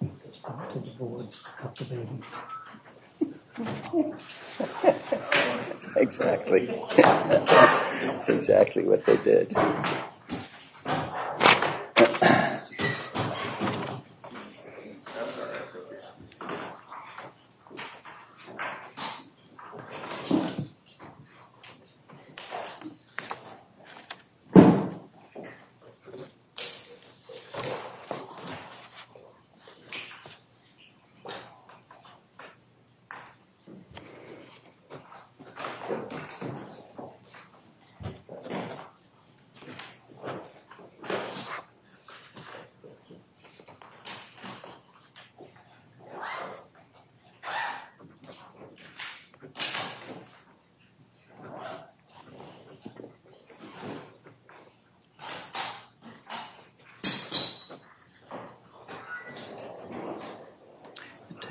That's exactly what they did.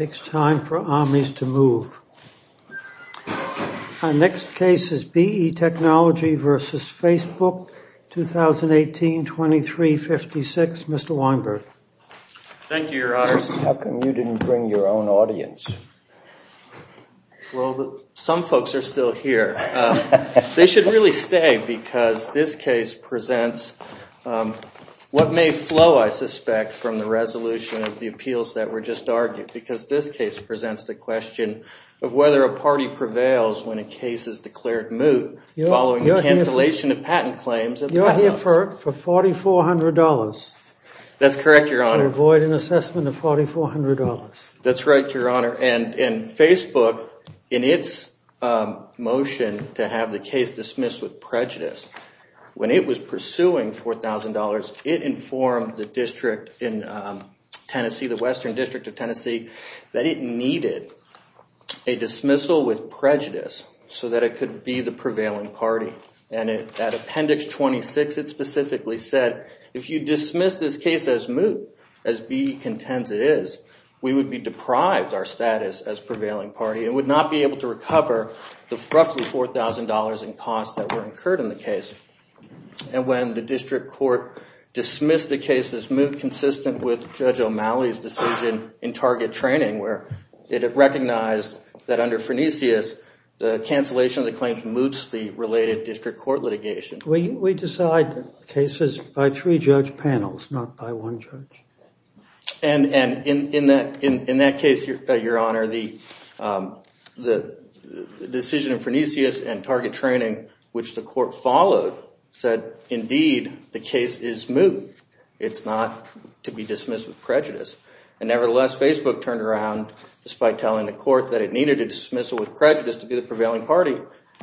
It takes time for armies to move. Our next case is BE Technology versus Facebook, 2018, 2356. Mr. Weinberg. Thank you, your honors. How come you didn't bring your own audience? Well, some folks are still here. They should really stay, because this case presents what may flow, I suspect, from the resolution of the appeals that were just argued, because this case presents the question of whether a party prevails when a case is declared moot, following the cancellation of patent claims. You're here for $4,400. That's correct, your honor. To avoid an assessment of $4,400. That's right, your honor. And Facebook, in its motion to have the case dismissed with prejudice, when it was pursuing $4,000, it informed the district in Tennessee, the Western District of Tennessee, that it needed a dismissal with prejudice so that it could be the prevailing party. And at appendix 26, it specifically said, if you dismiss this case as moot, as BE contends it is, we would be deprived our status as prevailing party and would not be able to recover the roughly $4,000 in costs that were incurred in the case. And when the district court dismissed the case as moot, it was consistent with Judge O'Malley's decision in target training, where it recognized that under Phrenicius, the cancellation of the claim moots the related district court litigation. We decide cases by three judge panels, not by one judge. And in that case, your honor, the decision of Phrenicius and target training, which the court followed, said, indeed, the case is moot. It's not to be dismissed with prejudice. And nevertheless, Facebook turned around, despite telling the court that it needed a dismissal with prejudice to be the prevailing party,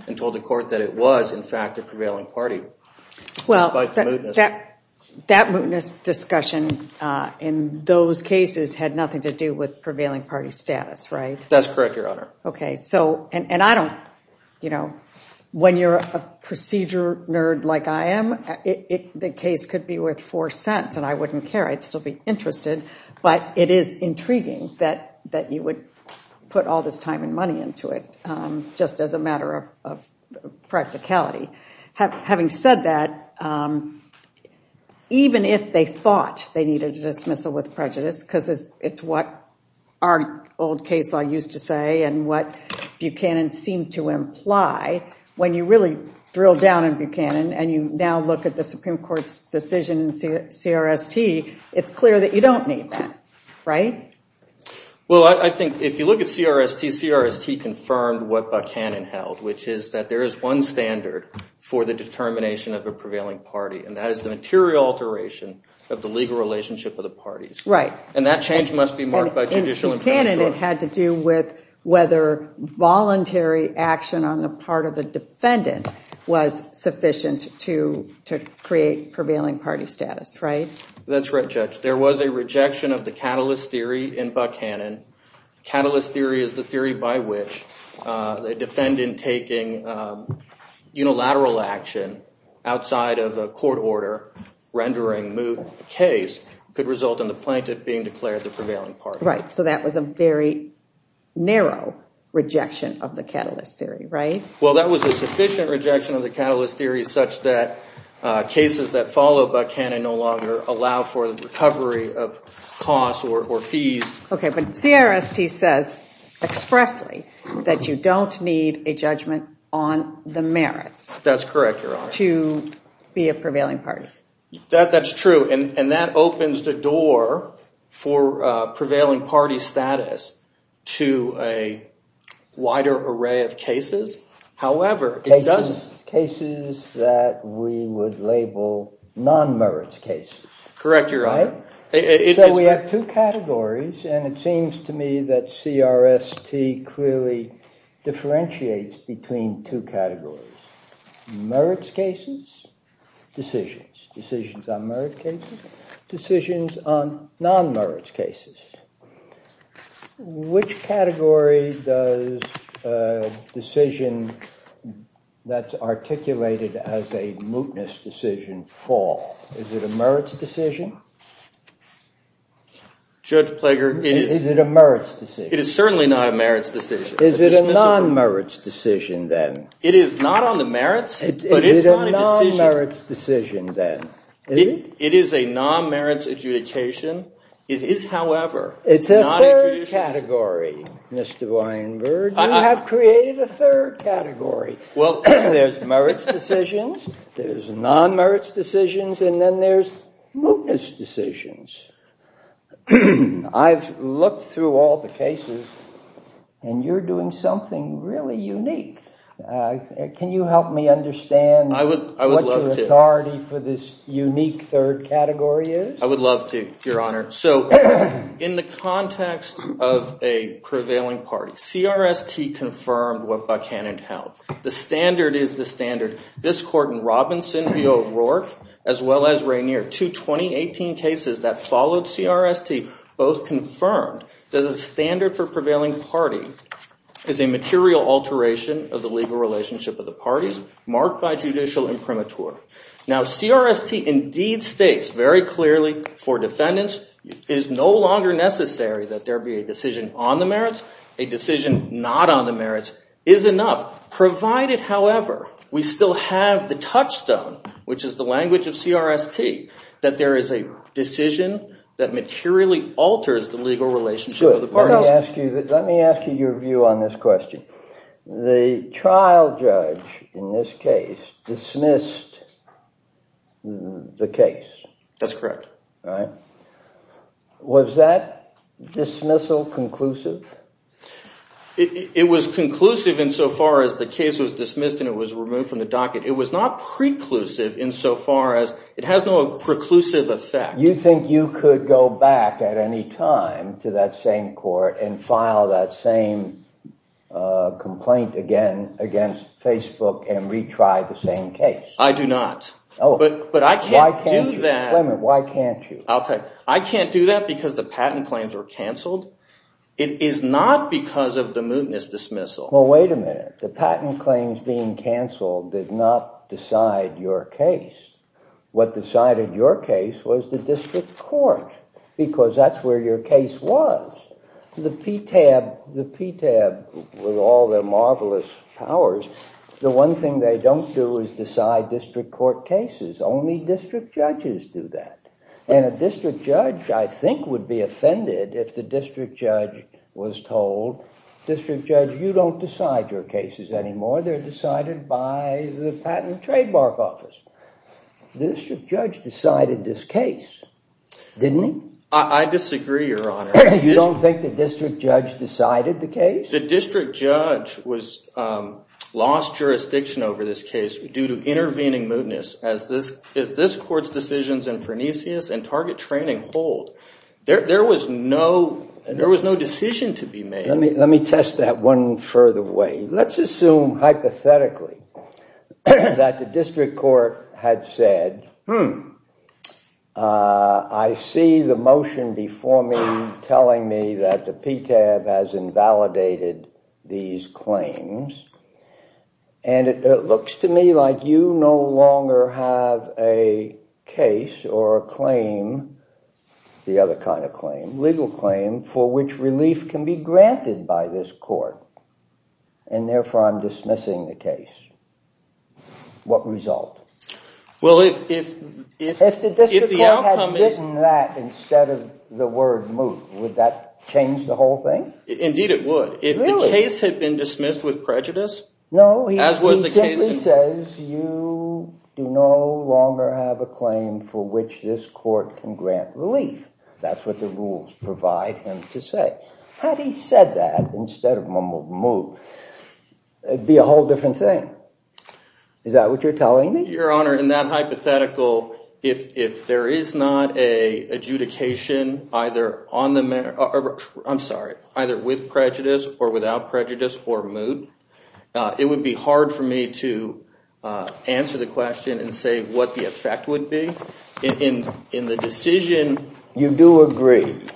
and told the court that it was, in fact, a prevailing party, despite the mootness. Well, that mootness discussion in those cases had nothing to do with prevailing party status, right? That's correct, your honor. Okay, so, and I don't, you know, when you're a procedure nerd like I am, the case could be worth four cents, and I wouldn't care. I'd still be interested. But it is intriguing that you would put all this time and money into it, just as a matter of practicality. Having said that, even if they thought they needed a dismissal with prejudice, because it's what our old case law used to say, and what Buchanan seemed to imply, when you really drill down in Buchanan, and you now look at the Supreme Court's decision in CRST, it's clear that you don't need that, right? Well, I think if you look at CRST, CRST confirmed what Buchanan held, which is that there is one standard for the determination of a prevailing party, and that is the material alteration of the legal relationship of the parties. Right. And that change must be marked by judicial infringement. In Buchanan, it had to do with whether voluntary action on the part of a defendant was sufficient to create prevailing party status, right? That's right, Judge. There was a rejection of the catalyst theory in Buchanan. Catalyst theory is the theory by which a defendant taking unilateral action outside of a court order rendering moot a case could result in the plaintiff being declared the prevailing party. Right, so that was a very narrow rejection of the catalyst theory, right? Well, that was a sufficient rejection of the catalyst theory such that cases that follow Buchanan no longer allow for the recovery of costs or fees. Okay, but CRST says expressly that you don't need a judgment on the merits. That's correct, Your Honor. To be a prevailing party. That's true, and that opens the door for prevailing party status to a wider array of cases. However, it doesn't… Cases that we would label non-merits cases. Correct, Your Honor. So we have two categories, and it seems to me that CRST clearly differentiates between two categories. Merits cases, decisions. Decisions on merits cases, decisions on non-merits cases. Which category does a decision that's articulated as a mootness decision fall? Is it a merits decision? Judge Plager, it is… Is it a merits decision? It is certainly not a merits decision. Is it a non-merits decision then? It is not on the merits, but it's on a decision. Is it a non-merits decision then? It is a non-merits adjudication. It is, however, not an adjudication. It's a third category, Mr. Weinberg. You have created a third category. There's merits decisions, there's non-merits decisions, and then there's mootness decisions. I've looked through all the cases, and you're doing something really unique. Can you help me understand what the authority for this unique third category is? I would love to, Your Honor. So in the context of a prevailing party, CRST confirmed what Buchanan held. The standard is the standard. This court in Robinson v. O'Rourke, as well as Rainier, two 2018 cases that followed CRST, both confirmed that the standard for prevailing party is a material alteration of the legal relationship of the parties marked by judicial imprimatur. Now CRST indeed states very clearly for defendants it is no longer necessary that there be a decision on the merits. A decision not on the merits is enough, provided, however, we still have the touchstone, which is the language of CRST, that there is a decision that materially alters the legal relationship of the parties. Let me ask you your view on this question. The trial judge in this case dismissed the case. That's correct. Was that dismissal conclusive? It was conclusive insofar as the case was dismissed and it was removed from the docket. It was not preclusive insofar as it has no preclusive effect. You think you could go back at any time to that same court and file that same complaint again against Facebook and retry the same case? I do not. But I can't do that. Why can't you? I can't do that because the patent claims were canceled. It is not because of the mootness dismissal. Well, wait a minute. The patent claims being canceled did not decide your case. What decided your case was the district court, because that's where your case was. The PTAB, with all their marvelous powers, the one thing they don't do is decide district court cases. Only district judges do that. And a district judge, I think, would be offended if the district judge was told, district judge, you don't decide your cases anymore. They're decided by the Patent and Trademark Office. The district judge decided this case, didn't he? I disagree, Your Honor. You don't think the district judge decided the case? The district judge lost jurisdiction over this case due to intervening mootness. As this court's decisions in Frenicius and target training hold, there was no decision to be made. Let me test that one further way. Let's assume, hypothetically, that the district court had said, I see the motion before me telling me that the PTAB has invalidated these claims, and it looks to me like you no longer have a case or a claim, the other kind of claim, legal claim, for which relief can be granted by this court, and therefore I'm dismissing the case. What result? If the district court had written that instead of the word moot, would that change the whole thing? Indeed it would. Really? If the case had been dismissed with prejudice? No, he simply says, you do no longer have a claim for which this court can grant relief. That's what the rules provide him to say. Had he said that instead of moot, it would be a whole different thing. Is that what you're telling me? Your Honor, in that hypothetical, if there is not an adjudication either with prejudice or without prejudice or moot, it would be hard for me to answer the question and say what the effect would be. In the decision... You do agree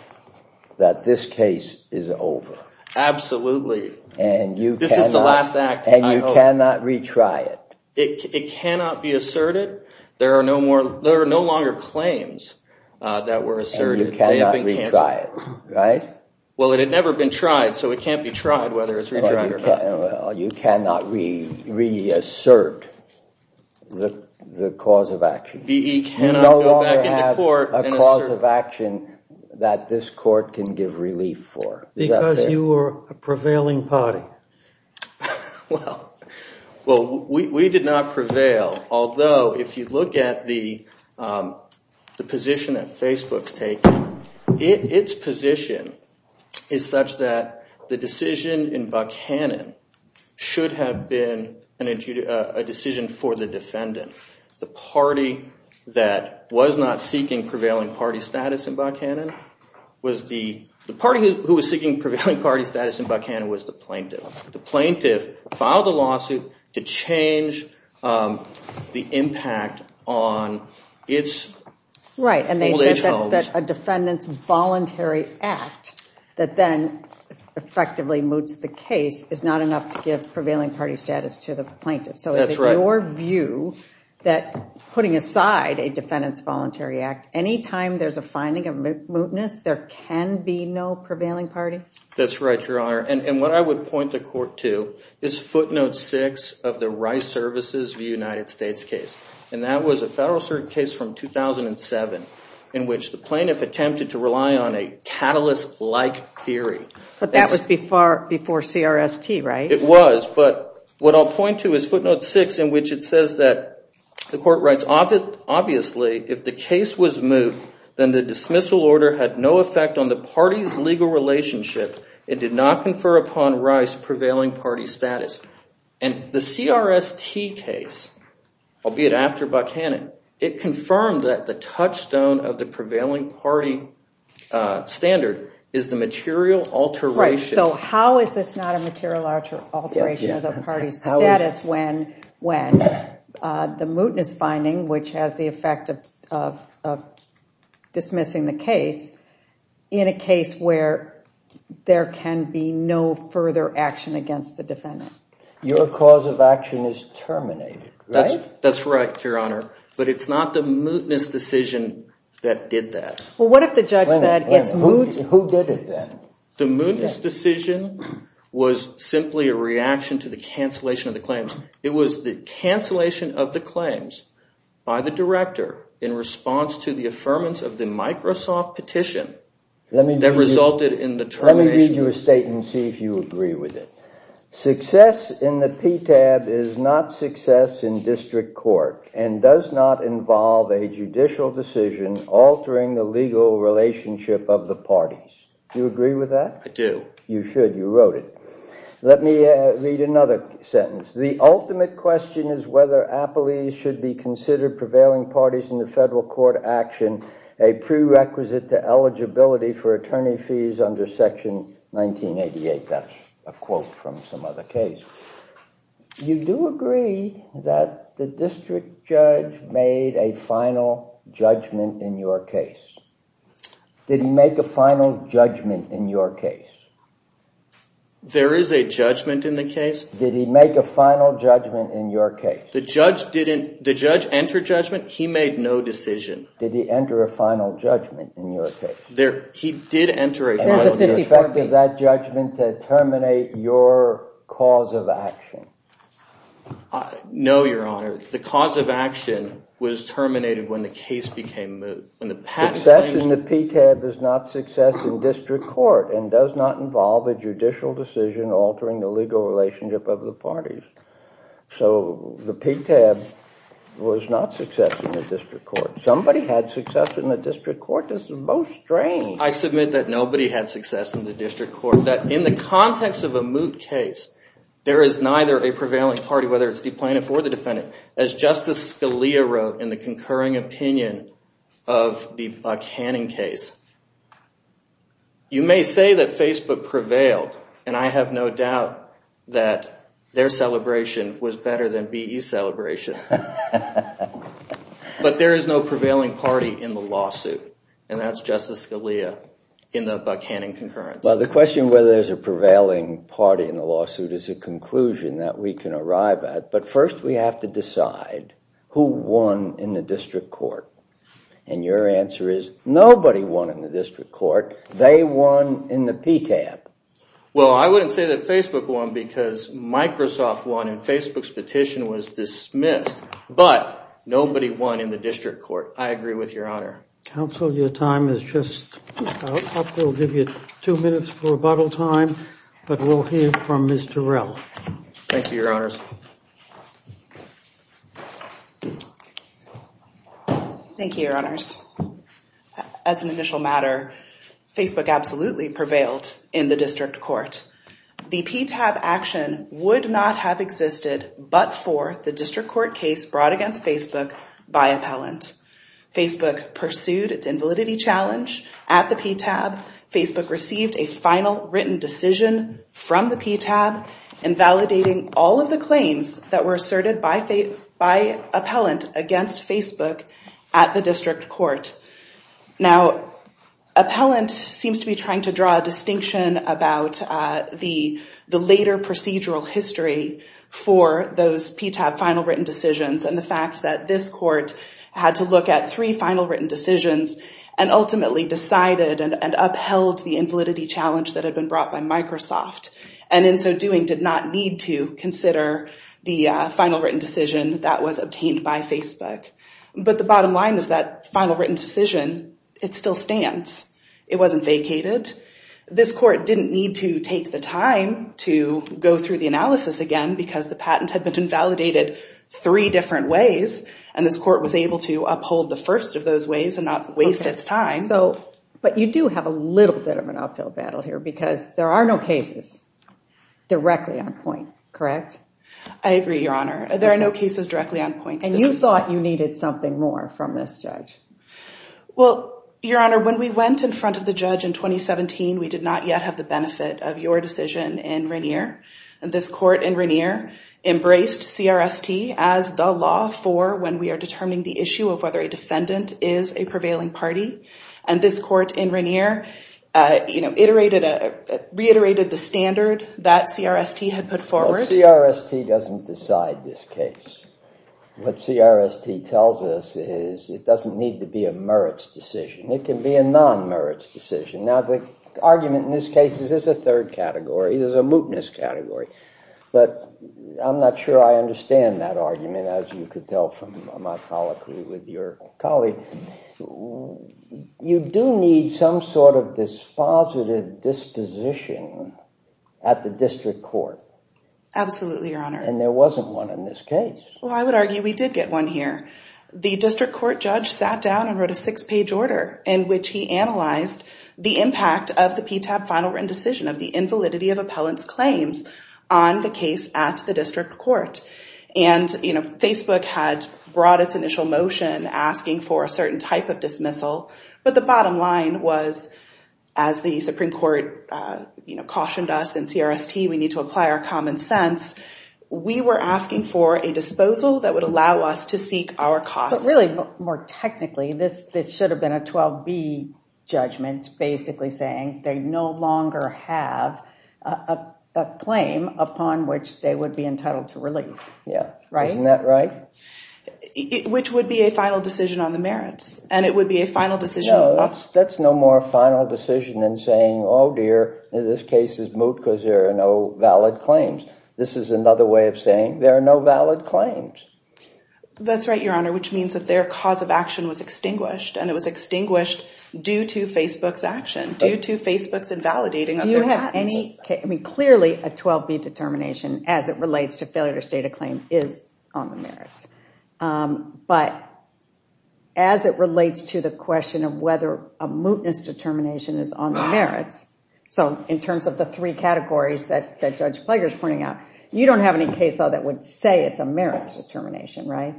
that this case is over? Absolutely. This is the last act, I hope. And you cannot retry it? It cannot be asserted. There are no longer claims that were asserted. And you cannot retry it, right? Well, it had never been tried, so it can't be tried whether it's retried or not. You cannot reassert the cause of action. B.E. cannot go back into court and assert... You no longer have a cause of action that this court can give relief for. Because you were a prevailing party. Well, we did not prevail. Although, if you look at the position that Facebook's taken, its position is such that the decision in Buckhannon should have been a decision for the defendant. The party that was not seeking prevailing party status in Buckhannon was the... The party who was seeking prevailing party status in Buckhannon was the plaintiff. The plaintiff filed a lawsuit to change the impact on its old-age homes. Right, and they said that a defendant's voluntary act that then effectively moots the case is not enough to give prevailing party status to the plaintiff. So is it your view that putting aside a defendant's voluntary act, any time there's a finding of mootness, there can be no prevailing party? That's right, Your Honor, and what I would point the court to is footnote 6 of the Rice Services v. United States case. And that was a Federal Circuit case from 2007 in which the plaintiff attempted to rely on a catalyst-like theory. But that was before CRST, right? It was, but what I'll point to is footnote 6 in which it says that the court writes, obviously, if the case was moot, then the dismissal order had no effect on the party's legal relationship and did not confer upon Rice prevailing party status. And the CRST case, albeit after Buckhannon, it confirmed that the touchstone of the prevailing party standard is the material alteration. Right, so how is this not a material alteration of the party's status when the mootness finding, which has the effect of dismissing the case, in a case where there can be no further action against the defendant? Your cause of action is terminated, right? That's right, Your Honor, but it's not the mootness decision that did that. Well, what if the judge said it's moot? Who did it then? The mootness decision was simply a reaction to the cancellation of the claims. It was the cancellation of the claims by the director in response to the affirmance of the Microsoft petition that resulted in the termination. Let me read you a statement and see if you agree with it. Success in the PTAB is not success in district court and does not involve a judicial decision altering the legal relationship of the parties. Do you agree with that? I do. You should. You wrote it. Let me read another sentence. The ultimate question is whether appellees should be considered prevailing parties in the federal court action, a prerequisite to eligibility for attorney fees under Section 1988. That's a quote from some other case. You do agree that the district judge made a final judgment in your case. Did he make a final judgment in your case? There is a judgment in the case. Did he make a final judgment in your case? The judge entered judgment. He made no decision. Did he enter a final judgment in your case? He did enter a final judgment. There's a 50% of that judgment to terminate your cause of action. No, Your Honor. The cause of action was terminated when the case became moot. Success in the PTAB is not success in district court and does not involve a judicial decision altering the legal relationship of the parties. So the PTAB was not success in the district court. Somebody had success in the district court. This is most strange. I submit that nobody had success in the district court. In the context of a moot case, there is neither a prevailing party, whether it's the plaintiff or the defendant. As Justice Scalia wrote in the concurring opinion of the Buck-Hannon case, you may say that Facebook prevailed, and I have no doubt that their celebration was better than BE's celebration. But there is no prevailing party in the lawsuit, and that's Justice Scalia in the Buck-Hannon concurrence. Well, the question whether there's a prevailing party in the lawsuit is a conclusion that we can arrive at. But first we have to decide who won in the district court. And your answer is nobody won in the district court. They won in the PTAB. Well, I wouldn't say that Facebook won because Microsoft won and Facebook's petition was dismissed. But nobody won in the district court. I agree with your honor. Counsel, your time is just up. We'll give you two minutes for rebuttal time, but we'll hear from Ms. Terrell. Thank you, your honors. Thank you, your honors. As an initial matter, Facebook absolutely prevailed in the district court. The PTAB action would not have existed but for the district court case brought against Facebook by appellant. Facebook pursued its invalidity challenge at the PTAB. Facebook received a final written decision from the PTAB invalidating all of the claims that were asserted by appellant against Facebook at the district court. Now, appellant seems to be trying to draw a distinction about the later procedural history for those PTAB final written decisions and the fact that this court had to look at three final written decisions and ultimately decided and upheld the invalidity challenge that had been brought by Microsoft. And in so doing, did not need to consider the final written decision that was obtained by Facebook. But the bottom line is that final written decision, it still stands. It wasn't vacated. This court didn't need to take the time to go through the analysis again because the patent had been invalidated three different ways and this court was able to uphold the first of those ways and not waste its time. But you do have a little bit of an uphill battle here because there are no cases directly on point, correct? I agree, Your Honor. There are no cases directly on point. And you thought you needed something more from this judge? Well, Your Honor, when we went in front of the judge in 2017, we did not yet have the benefit of your decision in Rainier. And this court in Rainier embraced CRST as the law for when we are determining the issue of whether a defendant is a prevailing party. And this court in Rainier reiterated the standard that CRST had put forward. CRST doesn't decide this case. What CRST tells us is it doesn't need to be a merits decision. It can be a non-merits decision. Now, the argument in this case is it's a third category. It is a mootness category. But I'm not sure I understand that argument, as you could tell from my colloquy with your colleague. You do need some sort of dispositive disposition at the district court. Absolutely, Your Honor. And there wasn't one in this case. Well, I would argue we did get one here. The district court judge sat down and wrote a six-page order in which he analyzed the impact of the PTAP final written decision of the invalidity of appellant's claims on the case at the district court. And Facebook had brought its initial motion asking for a certain type of dismissal. But the bottom line was, as the Supreme Court cautioned us in CRST, we need to apply our common sense. We were asking for a disposal that would allow us to seek our costs. But really, more technically, this should have been a 12B judgment, basically saying they no longer have a claim upon which they would be entitled to relief. Isn't that right? Which would be a final decision on the merits. And it would be a final decision. No, that's no more a final decision than saying, oh, dear, this case is moot because there are no valid claims. This is another way of saying there are no valid claims. That's right, Your Honor, which means that their cause of action was extinguished. And it was extinguished due to Facebook's action, due to Facebook's invalidating of their patents. Do you have any case, I mean, clearly a 12B determination as it relates to failure to state a claim is on the merits. But as it relates to the question of whether a mootness determination is on the merits, so in terms of the three categories that Judge Plager's pointing out, you don't have any case that would say it's a merits determination, right?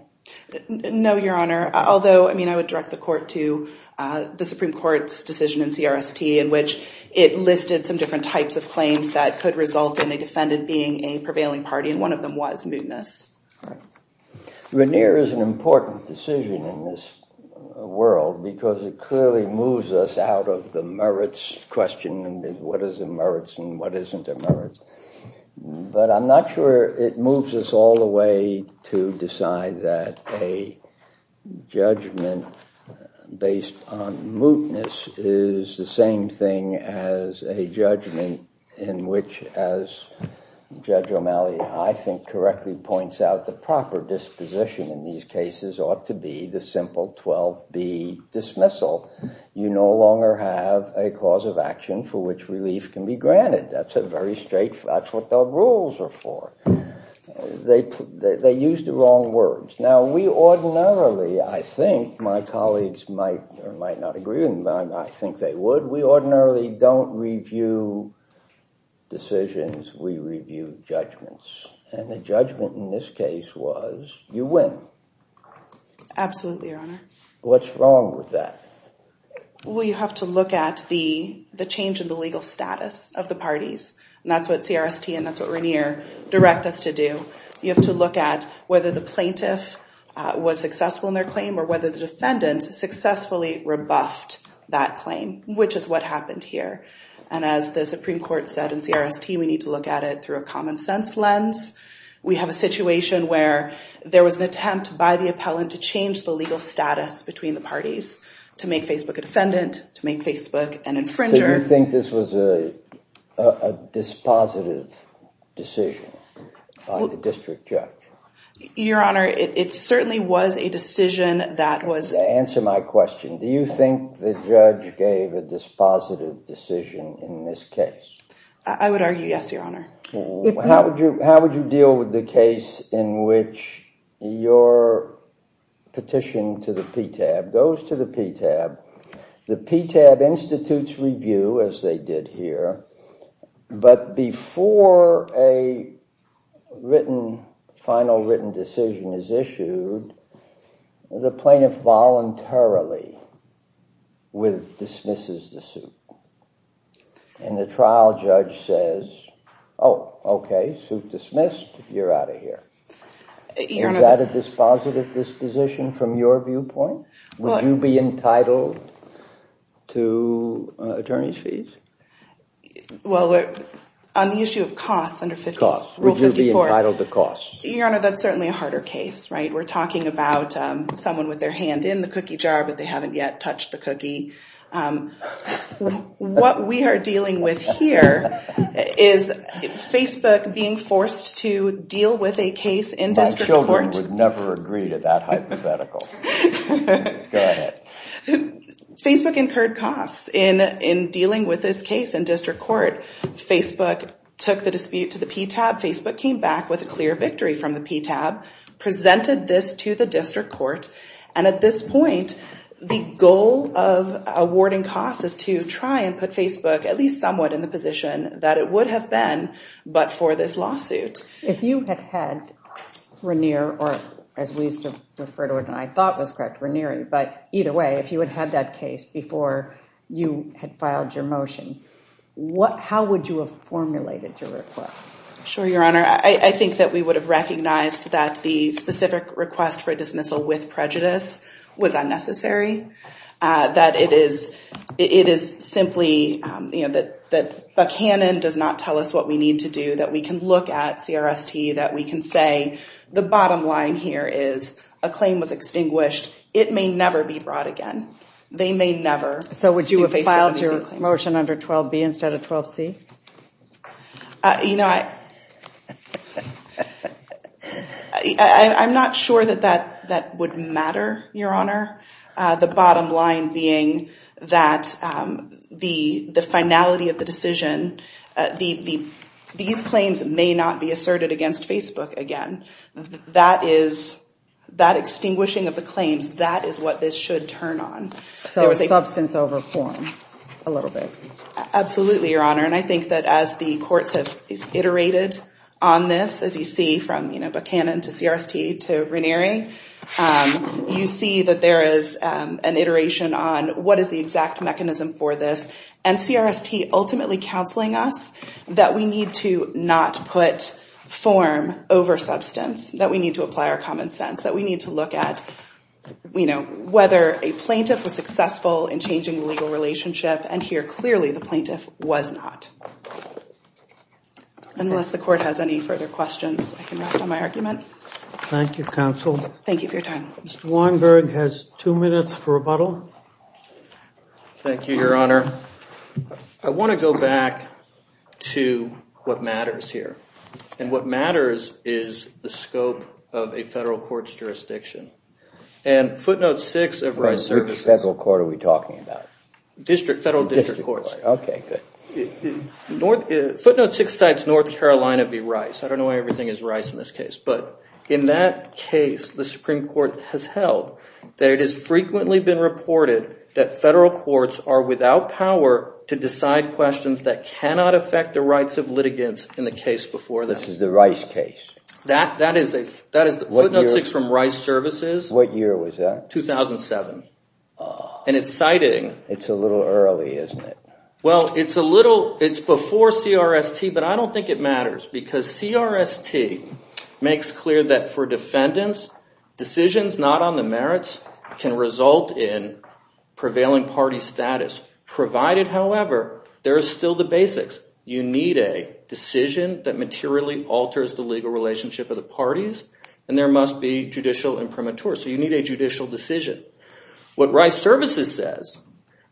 No, Your Honor. Although, I mean, I would direct the court to the Supreme Court's decision in CRST in which it listed some different types of claims that could result in a defendant being a prevailing party, and one of them was mootness. Right. Vernier is an important decision in this world because it clearly moves us out of the merits question and what is a merits and what isn't a merits. But I'm not sure it moves us all the way to decide that a judgment based on mootness is the same thing as a judgment in which, as Judge O'Malley, I think, correctly points out, the proper disposition in these cases ought to be the simple 12B dismissal. You no longer have a cause of action for which relief can be granted. That's a very straight, that's what the rules are for. They use the wrong words. Now, we ordinarily, I think, my colleagues might not agree with me, but I think they would, we ordinarily don't review decisions, we review judgments. And the judgment in this case was you win. Absolutely, Your Honor. What's wrong with that? Well, you have to look at the change in the legal status of the parties, and that's what CRST and that's what Vernier direct us to do. You have to look at whether the plaintiff was successful in their claim or whether the defendant successfully rebuffed that claim, which is what happened here. And as the Supreme Court said in CRST, we need to look at it through a common sense lens. We have a situation where there was an attempt by the appellant to change the legal status between the parties, to make Facebook a defendant, to make Facebook an infringer. Do you think this was a dispositive decision by the district judge? Your Honor, it certainly was a decision that was... Answer my question. Do you think the judge gave a dispositive decision in this case? I would argue yes, Your Honor. How would you deal with the case in which your petition to the PTAB goes to the PTAB, the PTAB institutes review, as they did here, but before a final written decision is issued, the plaintiff voluntarily dismisses the suit. And the trial judge says, oh, okay, suit dismissed, you're out of here. Is that a dispositive disposition from your viewpoint? Would you be entitled to attorney's fees? Well, on the issue of costs under Rule 54... Would you be entitled to costs? Your Honor, that's certainly a harder case, right? We're talking about someone with their hand in the cookie jar, but they haven't yet touched the cookie. What we are dealing with here is Facebook being forced to deal with a case in district court. My children would never agree to that hypothetical. Go ahead. Facebook incurred costs in dealing with this case in district court. Facebook took the dispute to the PTAB. Facebook came back with a clear victory from the PTAB, presented this to the district court, and at this point, the goal of awarding costs is to try and put Facebook at least somewhat in the position that it would have been but for this lawsuit. If you had had Raniere, or as we used to refer to it, and I thought was correct, Raniere, but either way, if you had had that case before you had filed your motion, how would you have formulated your request? Sure, Your Honor. I think that we would have recognized that the specific request for dismissal with prejudice was unnecessary, that it is simply that Buckhannon does not tell us what we need to do, that we can look at CRST, that we can say, the bottom line here is a claim was extinguished. It may never be brought again. They may never sue Facebook. So would you have filed your motion under 12B instead of 12C? You know, I'm not sure that that would matter, Your Honor. The bottom line being that the finality of the decision, these claims may not be asserted against Facebook again. That is, that extinguishing of the claims, that is what this should turn on. So substance over form, a little bit. Absolutely, Your Honor, and I think that as the courts have iterated on this, as you see from, you know, Buckhannon to CRST to Ranieri, you see that there is an iteration on what is the exact mechanism for this, and CRST ultimately counseling us that we need to not put form over substance, that we need to apply our common sense, that we need to look at, you know, whether a plaintiff was successful in changing the legal relationship, and here, clearly, the plaintiff was not. Unless the court has any further questions, I can rest on my argument. Thank you, counsel. Thank you for your time. Mr. Weinberg has two minutes for rebuttal. Thank you, Your Honor. I want to go back to what matters here, and what matters is the scope of a federal court's jurisdiction. And footnote six of resurfaces... What federal court are we talking about? Federal district courts. Okay, good. Footnote six cites North Carolina v. Rice. I don't know why everything is Rice in this case, but in that case, the Supreme Court has held that it has frequently been reported that federal courts are without power to decide questions that cannot affect the rights of litigants in the case before them. This is the Rice case. That is footnote six from Rice Services. What year was that? 2007. And it's citing... It's a little early, isn't it? Well, it's a little... It's before CRST, but I don't think it matters, because CRST makes clear that for defendants, decisions not on the merits can result in prevailing party status, provided, however, there are still the basics. You need a decision that materially alters the legal relationship of the parties, and there must be judicial imprimatur. So you need a judicial decision. What Rice Services says,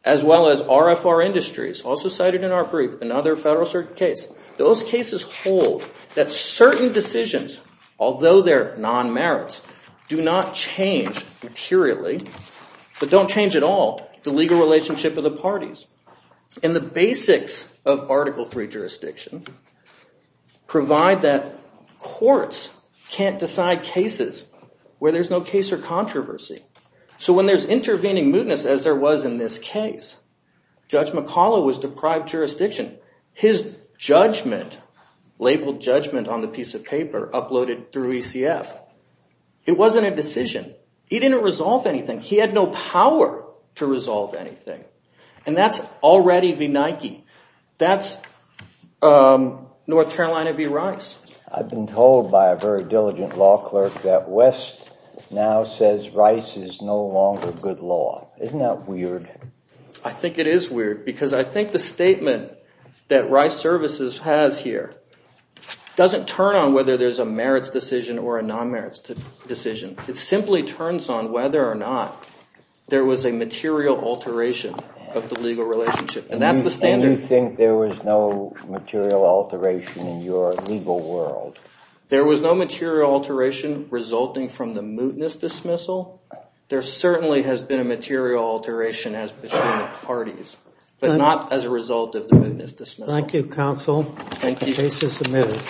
as well as RFR Industries, also cited in our brief, another federal case, those cases hold that certain decisions, although they're non-merits, do not change materially, but don't change at all the legal relationship of the parties. And the basics of Article III jurisdiction provide that courts can't decide cases where there's no case or controversy. So when there's intervening mootness, as there was in this case, Judge McCollough was deprived jurisdiction. His judgment, labeled judgment on the piece of paper, uploaded through ECF. It wasn't a decision. He didn't resolve anything. He had no power to resolve anything. And that's already v. Nike. That's North Carolina v. Rice. I've been told by a very diligent law clerk that West now says Rice is no longer good law. Isn't that weird? I think it is weird, because I think the statement that Rice Services has here doesn't turn on whether there's a merits decision or a non-merits decision. It simply turns on whether or not there was a material alteration of the legal relationship. And that's the standard. And you think there was no material alteration in your legal world? There was no material alteration resulting from the mootness dismissal. There certainly has been a material alteration as between the parties, but not as a result of the mootness dismissal. Thank you, Counsel. Thank you. The case is submitted.